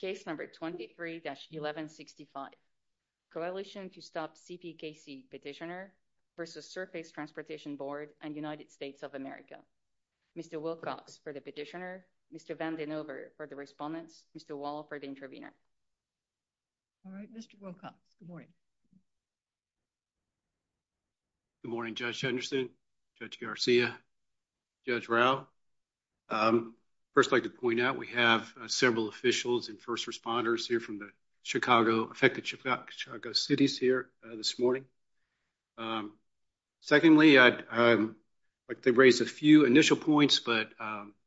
Case number 23-1165, Coalition to Stop CPKC Petitioner v. Surface Transportation Board and United States of America. Mr. Wilcox for the petitioner, Mr. Vanden Heuvel for the respondents, Mr. Wall for the intervener. All right, Mr. Wilcox, good morning. Good morning, Judge Henderson, Judge Garcia, Judge Rao. First, I'd like to point out we have several officials and first responders here from the affected Chicago cities here this morning. Secondly, I'd like to raise a few initial points, but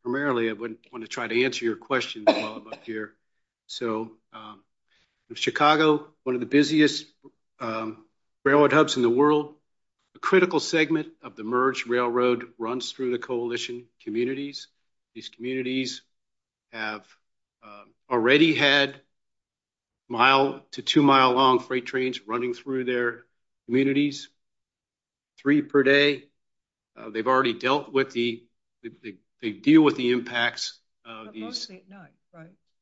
primarily I want to try to answer your questions while I'm up here. So, Chicago, one of the busiest railroad hubs in the world, a critical segment of the Merge Railroad runs through the coalition communities. These already had mile to two mile long freight trains running through their communities, three per day. They've already dealt with the, they deal with the impacts of these.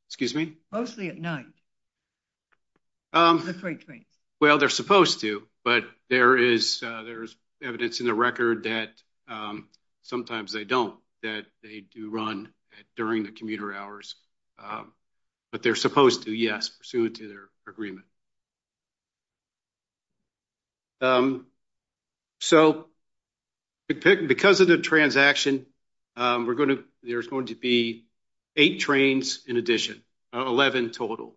Excuse me? Mostly at night. Well, they're supposed to, but there is, there's evidence in the record that sometimes they don't, that they do run during the commuter hours, but they're supposed to, yes, pursuant to their agreement. So, because of the transaction, we're going to, there's going to be eight trains in addition, 11 total.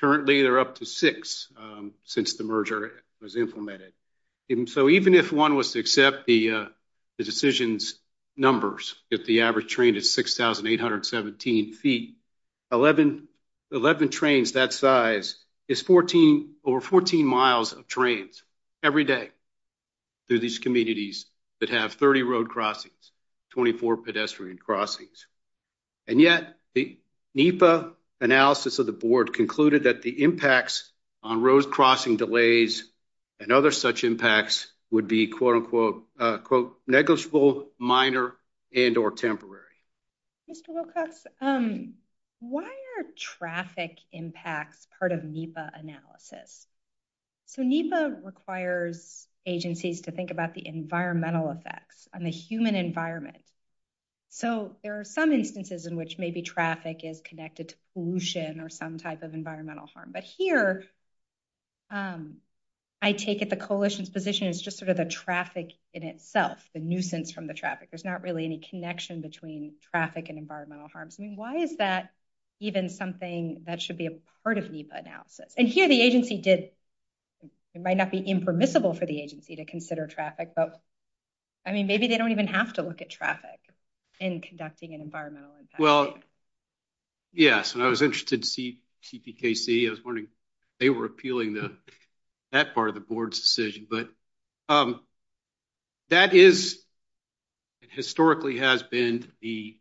Currently, they're up to six since the merger was implemented. So, even if one was to accept the decision's numbers, if the average train is 6,817 feet, 11 trains that size is 14, over 14 miles of trains every day through these communities that have 30 road crossings, 24 pedestrian crossings. And yet the NEPA analysis of the would be quote unquote negligible, minor, and or temporary. Mr. Wilcox, why are traffic impacts part of NEPA analysis? So, NEPA requires agencies to think about the environmental effects on the human environment. So, there are some instances in which maybe traffic is connected to pollution or some type of environmental harm, but here I take it the coalition's position is just sort of the traffic in itself, the nuisance from the traffic. There's not really any connection between traffic and environmental harms. I mean, why is that even something that should be a part of NEPA analysis? And here the agency did, it might not be impermissible for the agency to consider traffic, but I mean, maybe they don't even have to look at traffic in conducting an environmental impact. Well, yes, and I was interested to see TPKC. I was wondering if they were appealing to that part of the board's decision, but that is, and historically has been the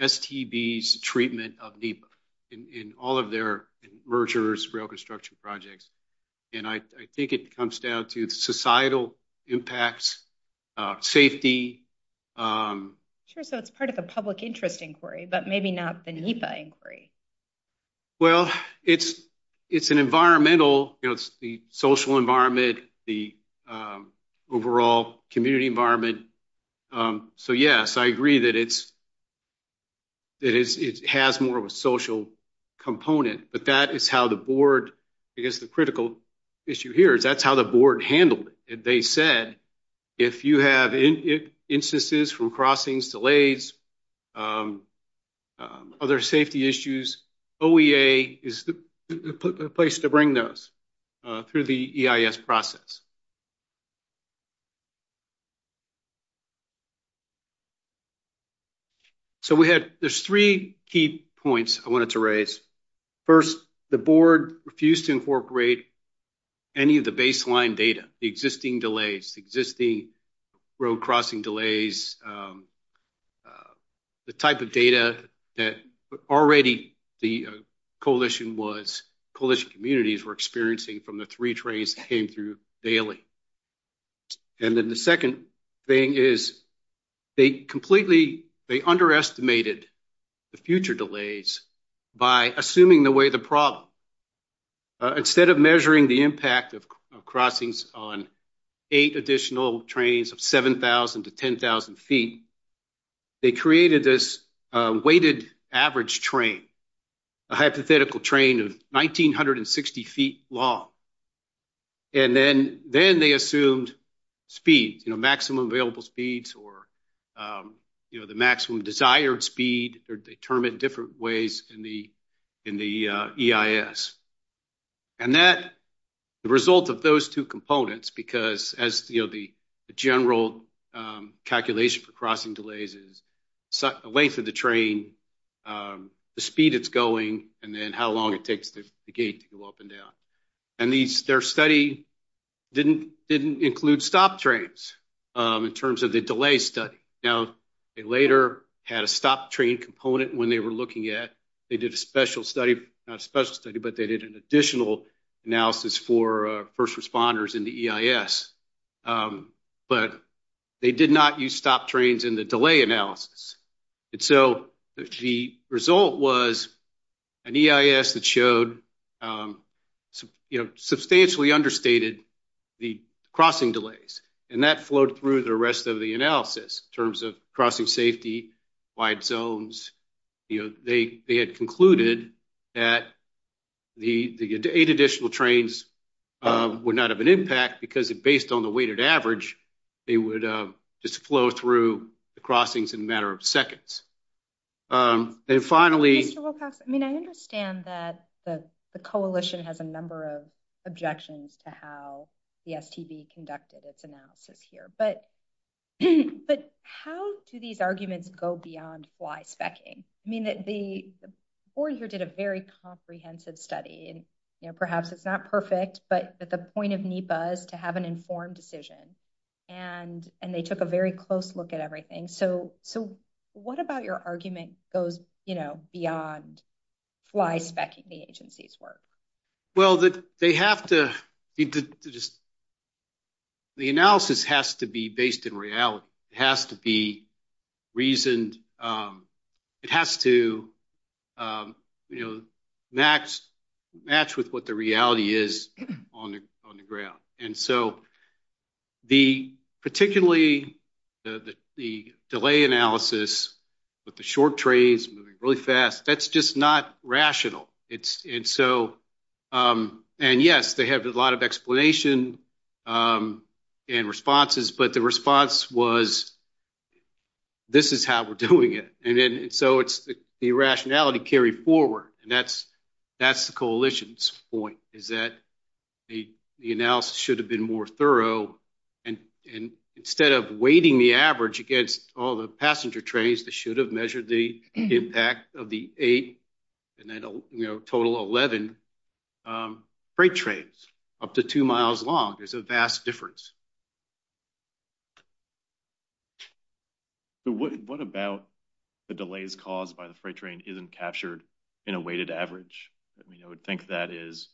STB's treatment of NEPA in all of their mergers, rail construction projects. And I think it comes down to societal impacts, safety. Sure, so it's part of the public interest inquiry, but maybe not the NEPA inquiry. Well, it's an environmental, it's the social environment, the overall community environment. So, yes, I agree that it has more of a social component, but that is how the board, I guess the critical issue here is that's how the board other safety issues, OEA is the place to bring those through the EIS process. So we had, there's three key points I wanted to raise. First, the board refused to incorporate any of the baseline data, the existing delays, the existing road crossing delays, the type of data that already the coalition communities were experiencing from the three trains that came through daily. And then the second thing is they completely, they underestimated the future delays by assuming the way the problem. Instead of measuring the crossings on eight additional trains of 7,000 to 10,000 feet, they created this weighted average train, a hypothetical train of 1,960 feet long. And then they assumed speeds, you know, maximum available speeds or, you know, the maximum desired speed are determined different ways in the EIS. And that, the result of those two components, because as, you know, the general calculation for crossing delays is the length of the train, the speed it's going, and then how long it takes the gate to go up and down. And their study didn't include stop trains in terms of the delay study. Now, they later had a stop train component when they were looking at, they did a special study, not a special study, but they did an additional analysis for first responders in the EIS, but they did not use stop trains in the delay analysis. And so the result was an EIS that showed, you know, substantially understated the crossing delays. And that flowed through the rest of the analysis in terms of crossing safety, wide zones, you know, they had concluded that the eight additional trains would not have an impact because it based on the weighted average, they would just flow through the crossings in a matter of seconds. And finally— Mr. Wilcox, I mean, I understand that the coalition has a number of objections to how the STB conducted its analysis here, but how do these arguments go beyond fly specking? I mean, the board here did a very comprehensive study and, you know, perhaps it's not perfect, but that the point of NEPA is to have an informed decision. And they took a very close look at everything. So what about your argument goes, you know, beyond fly specking the agency's work? Well, they have to—the analysis has to be based in reality. It has to be reasoned. It has to, you know, match with what the reality is on the ground. And so the—particularly the delay analysis with the short trains moving really fast, that's just not rational. And so—and yes, they have a lot of explanation and responses, but the response was, this is how we're doing it. And so it's the rationality carried forward. And that's the coalition's point, is that the analysis should have been more thorough. And instead of weighting the average against all the passenger trains that should have measured the impact of the eight and then, you know, total 11 freight trains up to two miles long, there's a vast difference. So what about the delays caused by the freight train isn't captured in a weighted average? I mean, I would think that is,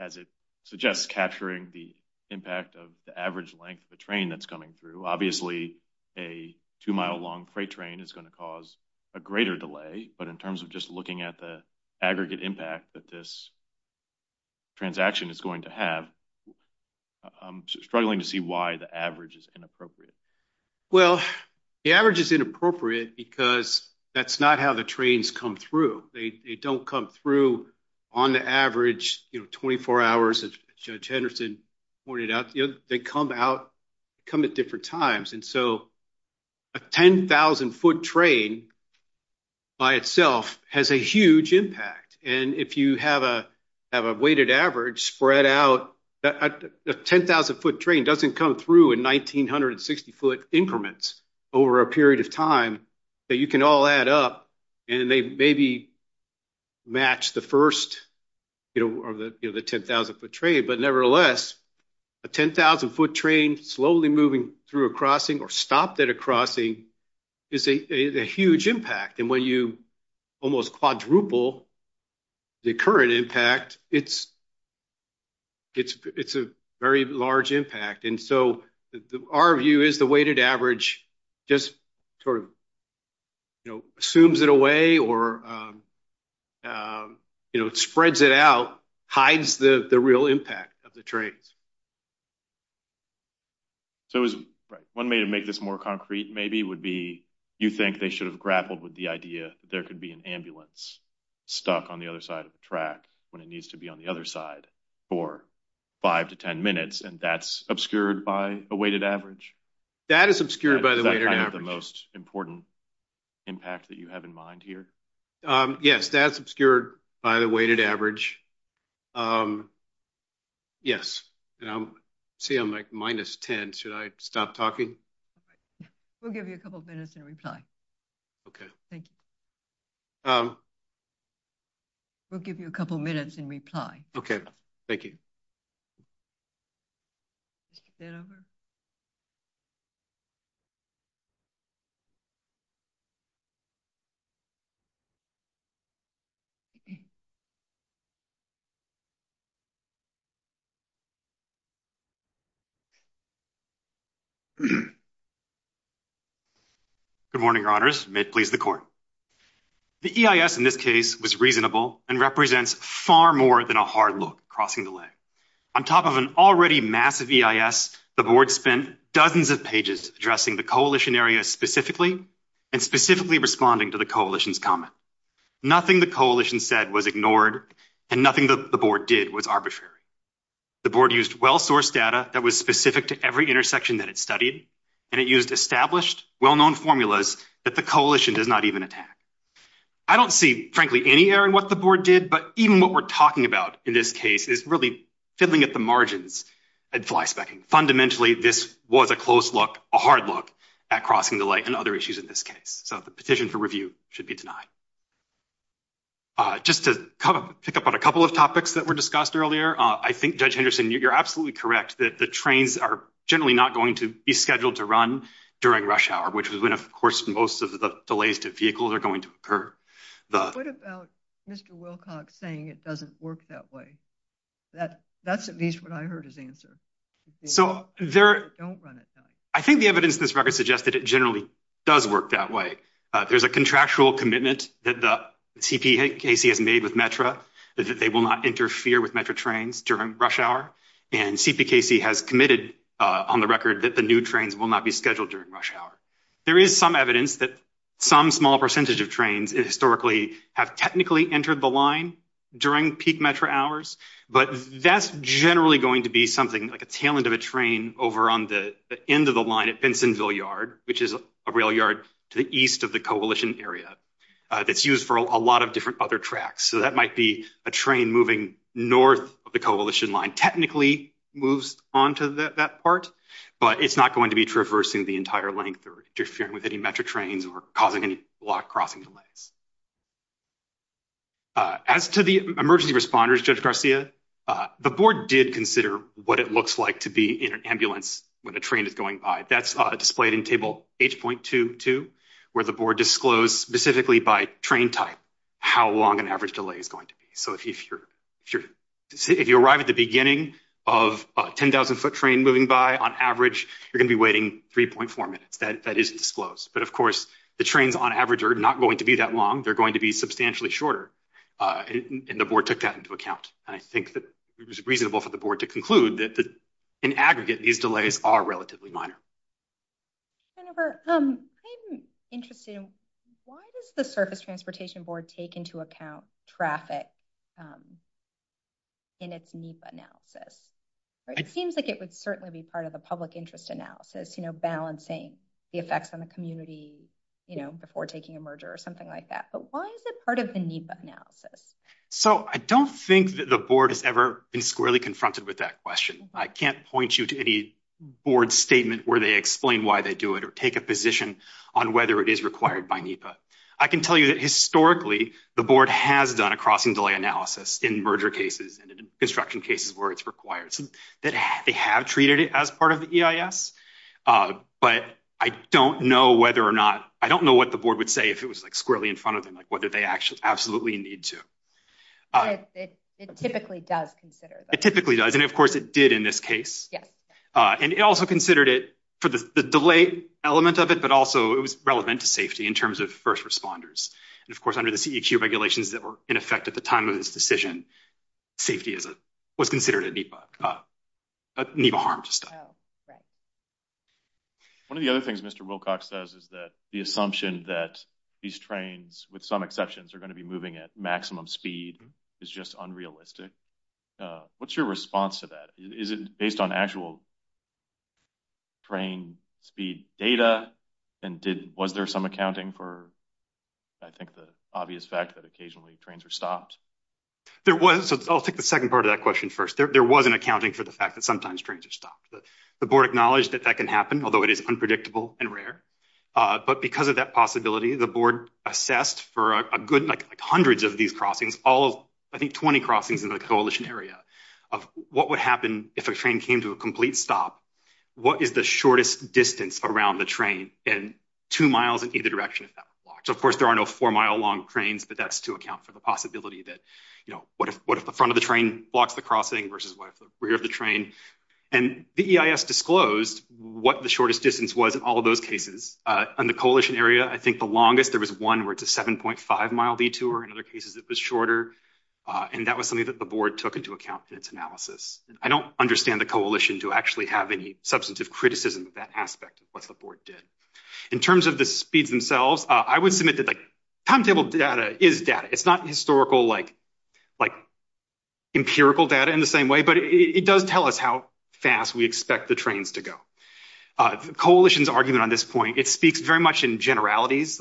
as it suggests, capturing the impact of the average length of the train that's coming through. Obviously, a two-mile-long freight train is going to cause a greater delay. But in terms of just looking at the aggregate impact that this is going to have, I'm struggling to see why the average is inappropriate. Well, the average is inappropriate because that's not how the trains come through. They don't come through on the average, you know, 24 hours, as Judge Henderson pointed out. You know, they come out—come at different times. And so a 10,000-foot train by itself has a huge impact. And if you have a weighted average spread out, a 10,000-foot train doesn't come through in 1,960-foot increments over a period of time that you can all add up and they maybe match the first, you know, of the 10,000-foot train. But nevertheless, a 10,000-foot train slowly moving through a crossing or stopped at a crossing is a huge impact. And when you almost quadruple the current impact, it's a very large impact. And so our view is the weighted average just sort of, you know, assumes it away or, you know, spreads it out, hides the real impact of the trains. So one way to make this more concrete, maybe, would be you think they should have grappled with the idea that there could be an ambulance stuck on the other side of the track when it needs to be on the other side for 5 to 10 minutes, and that's obscured by a weighted average? That is obscured by the weighted average. Is that kind of the most important impact that you have in mind here? Yes, that's obscured by the weighted average. Yes. And I'm—see, I'm like minus 10. Should I stop talking? We'll give you a couple minutes and reply. Okay. Thank you. We'll give you a couple minutes and reply. Okay. Thank you. Good morning, Your Honors. May it please the Court. The EIS in this case was reasonable and represents far more than a hard look crossing the leg. On top of an already massive EIS, the Board spent dozens of pages addressing the coalition area specifically and specifically responding to the coalition's comment. Nothing the coalition said was ignored and nothing that the Board did was arbitrary. The Board used well-sourced data that was specific to every intersection that it studied, and it used established, well-known formulas that the coalition does not even attack. I don't see, frankly, any error in what the Board did, but even what we're talking about in this case is really fiddling at the margins and flyspecking. Fundamentally, this was a close look, a hard look at crossing the leg and other issues in this case, so the petition for review should be denied. Just to pick up on a couple of topics that were discussed earlier, I think, Judge Henderson, you're absolutely correct that the trains are generally not going to be scheduled to run during rush hour, which is when, of course, most of the delays to vehicles are going to occur. What about Mr. Wilcox saying it doesn't work that way? That's at least what I heard his answer. I think the evidence in this record suggests that it generally does work that way. There's a contractual commitment that the TPHC has made with METRA that they will not interfere with METRA trains during rush hour, and CPKC has committed on the record that the new trains will not be scheduled during rush hour. There is some evidence that some small percentage of trains historically have technically entered the line during peak METRA hours, but that's generally going to be something like a tail end of a train over on the end of the line at Bensonville Yard, which is a rail yard to the east of the coalition area that's used for a lot of different other tracks. So that might be a train moving north of the coalition line technically moves onto that part, but it's not going to be traversing the entire length or interfering with any METRA trains or causing any block crossing delays. As to the emergency responders, Judge Garcia, the board did consider what it looks like to be in an specifically by train type how long an average delay is going to be. So if you arrive at the beginning of a 10,000 foot train moving by on average, you're going to be waiting 3.4 minutes. That isn't disclosed, but of course the trains on average are not going to be that long. They're going to be substantially shorter, and the board took that into account, and I think that it was reasonable for the board to conclude that in aggregate these delays are relatively minor. Jennifer, I'm interested in why does the Surface Transportation Board take into account traffic in its NEPA analysis? It seems like it would certainly be part of the public interest analysis, you know, balancing the effects on the community, you know, before taking a merger or something like that, but why is it part of the NEPA analysis? So I don't think that the board has ever been squarely confronted with that question. I can't point you to any board statement where they explain why they do it or take a position on whether it is required by NEPA. I can tell you that historically the board has done a crossing delay analysis in merger cases and construction cases where it's required, so that they have treated it as part of the EIS, but I don't know whether or not, I don't know what the board would say if it was like squarely in front of them, like whether they absolutely need to. It typically does consider that. It typically does, and of course it did in this case. Yes. And it also considered it for the delay element of it, but also it was relevant to safety in terms of first responders, and of course under the CEQ regulations that were in effect at the time of this decision, safety was considered a NEPA harm to staff. Oh, right. One of the other things Mr. Wilcox says is that the assumption that these trains, with some exceptions, are going to be moving at maximum speed is just unrealistic. What's your response to that? Is it based on actual train speed data, and was there some accounting for, I think, the obvious fact that occasionally trains are stopped? There was. I'll take the second part of that question first. There was an accounting for the fact that sometimes trains are stopped. The board acknowledged that that can happen, although it is unpredictable and rare, but because of that possibility, the board assessed for a good, like hundreds of these crossings, all of, I think, 20 crossings in the coalition area, of what would happen if a train came to a complete stop, what is the shortest distance around the train, and two miles in either direction if that were blocked. So of course there are no four mile long trains, but that's to account for the possibility that, you know, what if the front of the train blocks the crossing versus what if the rear of the train, and the EIS disclosed what the shortest distance was in all of those cases. In the coalition area, I think the longest, there was one where it's a 7.5 mile detour, in other cases it was shorter, and that was something that the board took into account in its analysis. I don't understand the coalition to actually have any substantive criticism of that aspect of what the board did. In terms of the speeds themselves, I would submit that, like, timetable data is data. It's not historical, like, empirical data in the same way, but it does tell us how fast we expect the trains to go. The coalition's argument on this point, it speaks very much in generalities.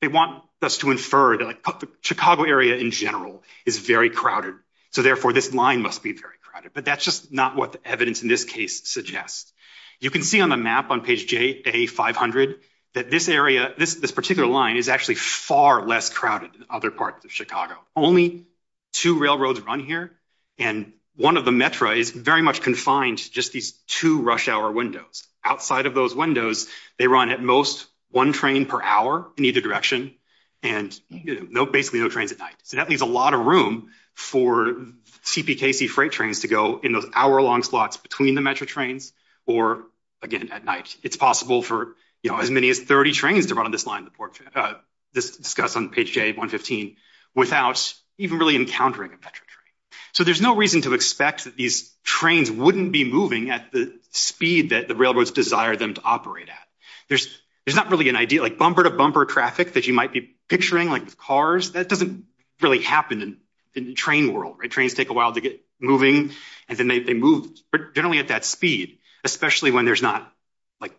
They want us to infer that the Chicago area in general is very crowded, so therefore this line must be very crowded, but that's just not what the evidence in this case suggests. You can see on the map on page J, A500, that this area, this particular line, is actually far less crowded than other parts of Chicago. Only two railroads run here, and one of the metra is very much confined to just these two rush hour windows. Outside of those windows, they run at most one train per hour in either direction, and basically no trains at night. So that leaves a lot of room for CPKC freight trains to go in those hour-long slots between the metro trains or, again, at night. It's possible for, you know, as many as 30 trains to run this line, this discussed on page J, 115, without even really encountering a metro train. So there's no reason to expect that these trains wouldn't be moving at the speed that the railroads desire them to operate at. There's not really an idea, like, bumper-to-bumper traffic that you might be picturing, like, with cars. That doesn't really happen in the train world, right? Trains take a while to get moving, and then they move generally at that speed, especially when there's not, like,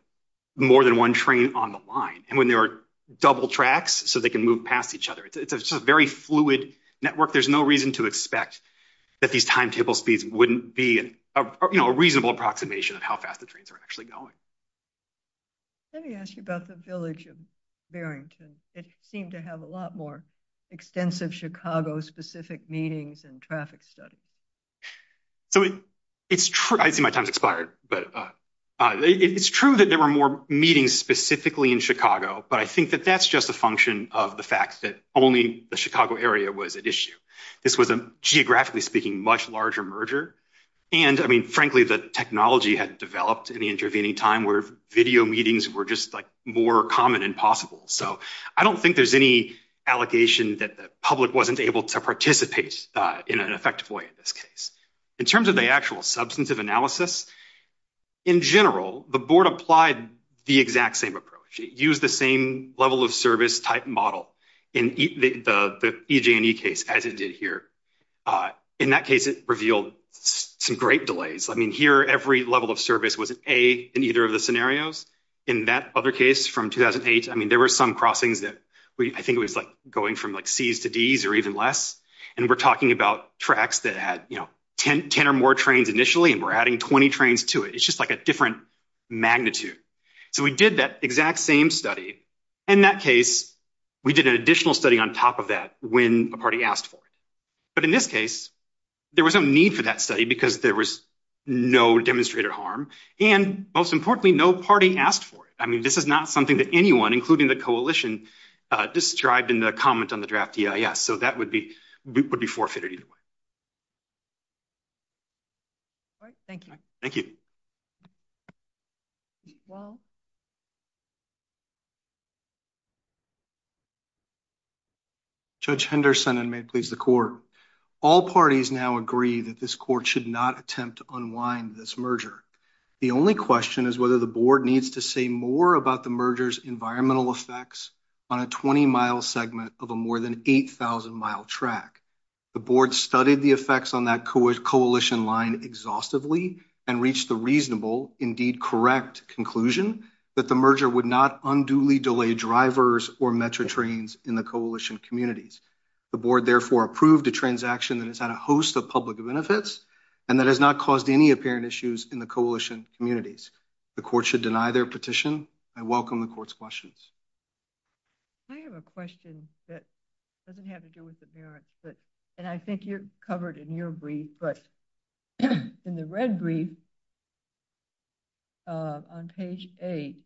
more than one train on the line, and when there are double tracks so they can move past each other. It's a very fluid network. There's no reason to expect that these timetable speeds wouldn't be, you know, a reasonable approximation of how fast the trains are actually going. Let me ask you about the village of Barrington. It seemed to have a lot more extensive Chicago-specific meetings and traffic studies. So it's true—I see my time's expired, but—it's true that there were more meetings specifically in Chicago, but I think that that's just a function of the fact that only the Chicago area was at issue. This was a, geographically speaking, much larger merger, and, I mean, frankly, the technology had developed in the intervening time where video meetings were just, like, more common and possible. So I don't think there's any allegation that the public wasn't able to participate in an effective way in this case. In terms of the actual substantive analysis, in general, the board applied the exact same approach. It used the same level of service type model in the EJ&E case as it did here. In that case, it revealed some great delays. I mean, here, every level of service was an A in either of the scenarios. In that other case from 2008, I mean, there were some crossings that I think it was, like, going from, like, Cs to Ds or even less, and we're talking about tracks that had, you know, 10 or more trains initially, and we're adding 20 trains to it. It's just, like, a different magnitude. So we did that exact same study. In that case, we did an additional study on top of that when a party asked for it. But in this case, there was no need for that study because there was no demonstrated harm and, most importantly, no party asked for it. I mean, this is not something that anyone, including the coalition, described in the comment on the draft EIS. So that would be forfeited either way. All right. Thank you. Thank you. Judge Henderson, and may it please the court. All parties now agree that this court should not attempt to unwind this merger. The only question is whether the board needs to say more about the merger's environmental effects on a 20-mile segment of a more than 8,000-mile track. The board studied the effects on that coalition line exhaustively and reached the reasonable, indeed correct, conclusion that the merger would not unduly delay drivers or metro trains in the coalition communities. The board therefore approved a transaction that has had a host of public benefits and that has not caused any apparent issues in the coalition communities. The court should deny their petition. I welcome the court's questions. I have a question that doesn't have to do with the merits, but, and I think you're covered in your brief, but in the red brief on page eight,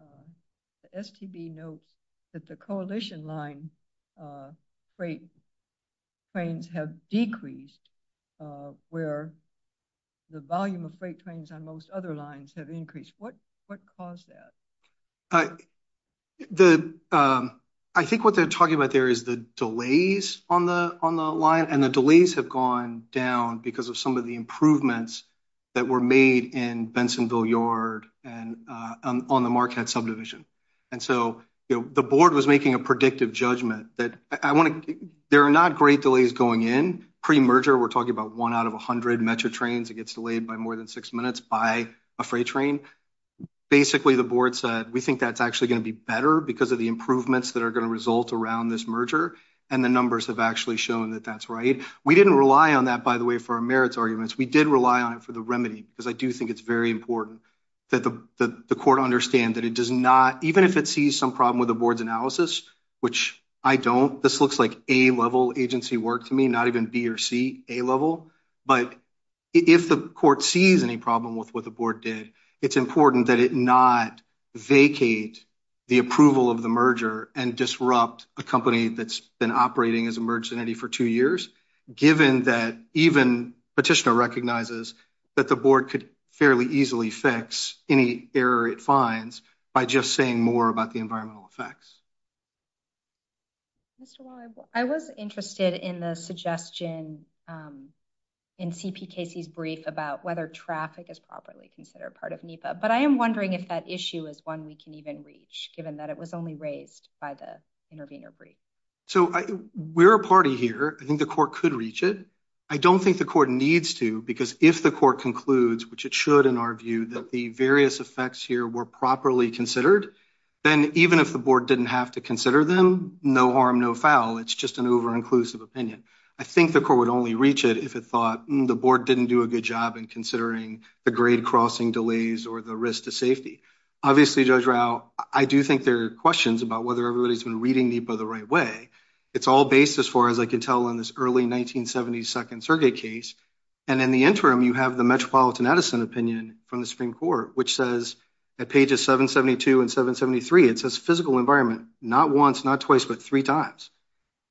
the STB notes that the coalition line freight trains have decreased where the volume of freight on most other lines have increased. What caused that? I think what they're talking about there is the delays on the line, and the delays have gone down because of some of the improvements that were made in Bensonville Yard and on the Marquette subdivision. And so, you know, the board was making a predictive judgment that I want to, there are not great delays going in pre-merger. We're talking about one out of 100 metro trains that gets delayed by more than six minutes by a freight train. Basically, the board said, we think that's actually going to be better because of the improvements that are going to result around this merger. And the numbers have actually shown that that's right. We didn't rely on that, by the way, for our merits arguments. We did rely on it for the remedy because I do think it's very important that the court understand that it does not, even if it sees some problem with the board's analysis, which I don't, this looks like a level agency work to me, not even B or C, A level. But if the court sees any problem with what the board did, it's important that it not vacate the approval of the merger and disrupt a company that's been operating as a merged entity for two years, given that even petitioner recognizes that the board could fairly easily fix any error it finds by just saying more about the environmental effects. I was interested in the suggestion in CP Casey's brief about whether traffic is properly considered part of NEPA, but I am wondering if that issue is one we can even reach, given that it was only raised by the intervener brief. So we're a party here. I think the court could reach it. I don't think the court needs to, because if the court concludes, which it should in our view, that the various effects here were properly considered, then even if the board didn't have to consider them, no harm, no foul, it's just an over-inclusive opinion. I think the court would only reach it if it thought the board didn't do a good job in considering the grade crossing delays or the risk to safety. Obviously, Judge Rao, I do think there are questions about whether everybody's been reading NEPA the right way. It's all based, as far as I can tell, on this early 1972nd Sergey case. And in the interim, you have the Metropolitan Edison opinion from the Supreme Court, which says at pages 772 and 773, it says physical environment, not once, not twice, but three times,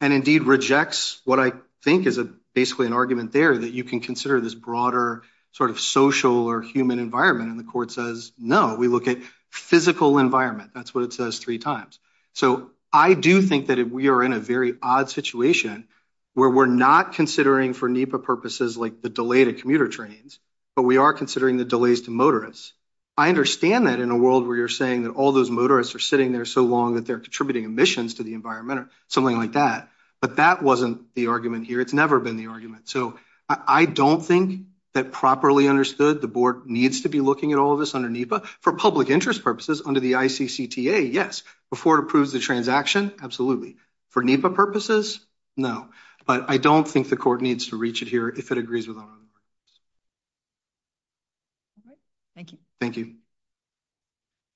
and indeed rejects what I think is basically an argument there that you can consider this broader sort of social or human environment. And the court says, no, we look at physical environment. That's what it says three times. So I do think that we are in a very odd situation where we're not considering for NEPA purposes like the delay to commuter trains, but we are considering the delays to motorists. I understand that in a world where you're saying that all those motorists are sitting there so long that they're contributing emissions to the environment or something like that, but that wasn't the argument here. It's never been the argument. So I don't think that properly understood the board needs to be looking at all of this under NEPA. For public interest purposes, under the ICCTA, yes. Before it approves the transaction, absolutely. For NEPA purposes, no. But I don't think the court needs to reach it here if it agrees with all of those. Thank you. Thank you.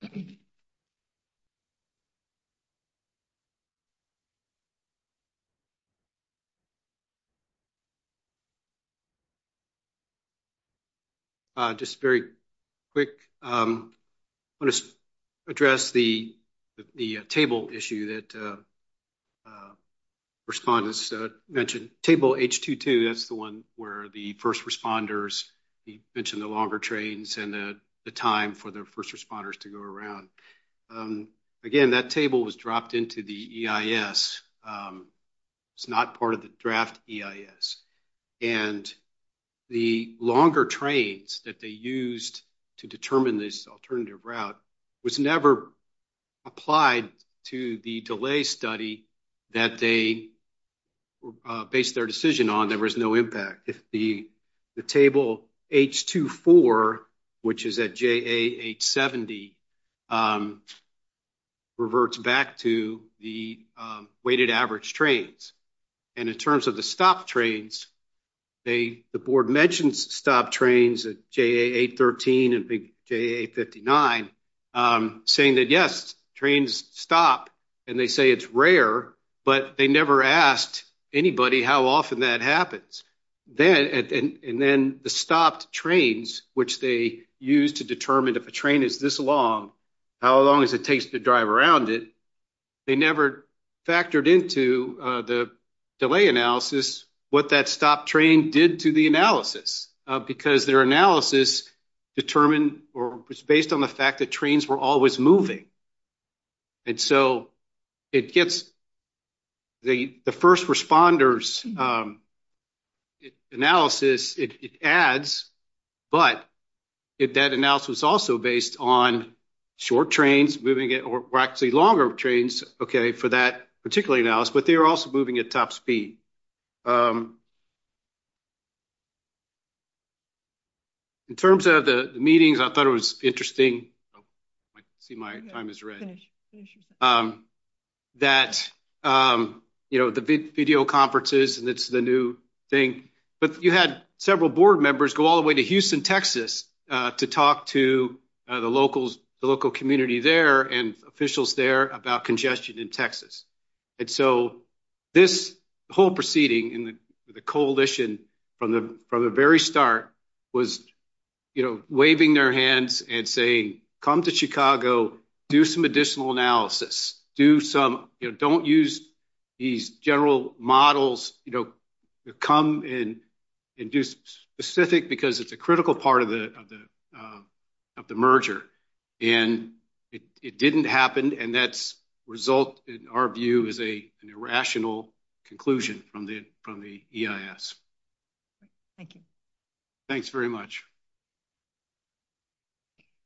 Thank you. Just very quick. I want to address the table issue that respondents mentioned. Table H22, that's the one where the first responders, you mentioned the longer trains and the time for the first responders to go around. Again, that table was dropped into the EIS. It's not part of the draft EIS. And the longer trains that they used to determine this alternative route was never applied to the delay study that they based their decision on. There was no impact. If the table H24, which is at JA870, reverts back to the weighted average trains. And in terms of the stop trains, the board mentioned stop trains at JA813 and JA859, saying that, yes, trains stop. And they say it's rare, but they never asked anybody how often that happens. And then the stop trains, which they use to determine if a train is this long, how long does it take to drive around it, they never factored into the delay analysis what that stop train did to the analysis. Because their analysis determined or was based on the fact that trains were always moving. And so it gets the first responders analysis, it adds, but that analysis was also based on short trains moving or actually longer trains, okay, for that particular analysis, but they were also moving at top speed. In terms of the meetings, I thought it was interesting. I see my time is ready. That, you know, the video conferences, and it's the new thing. But you had several board members go all the way to Houston, Texas, to talk to the local community there and officials there about congestion in Texas. And so this whole proceeding and the coalition from the very start was, you know, waving their hands and saying, come to Chicago, do some additional analysis, do some, you know, don't use these general models, you know, come in and do specific because it's a result, in our view, is an irrational conclusion from the EIS. Thank you. Thanks very much.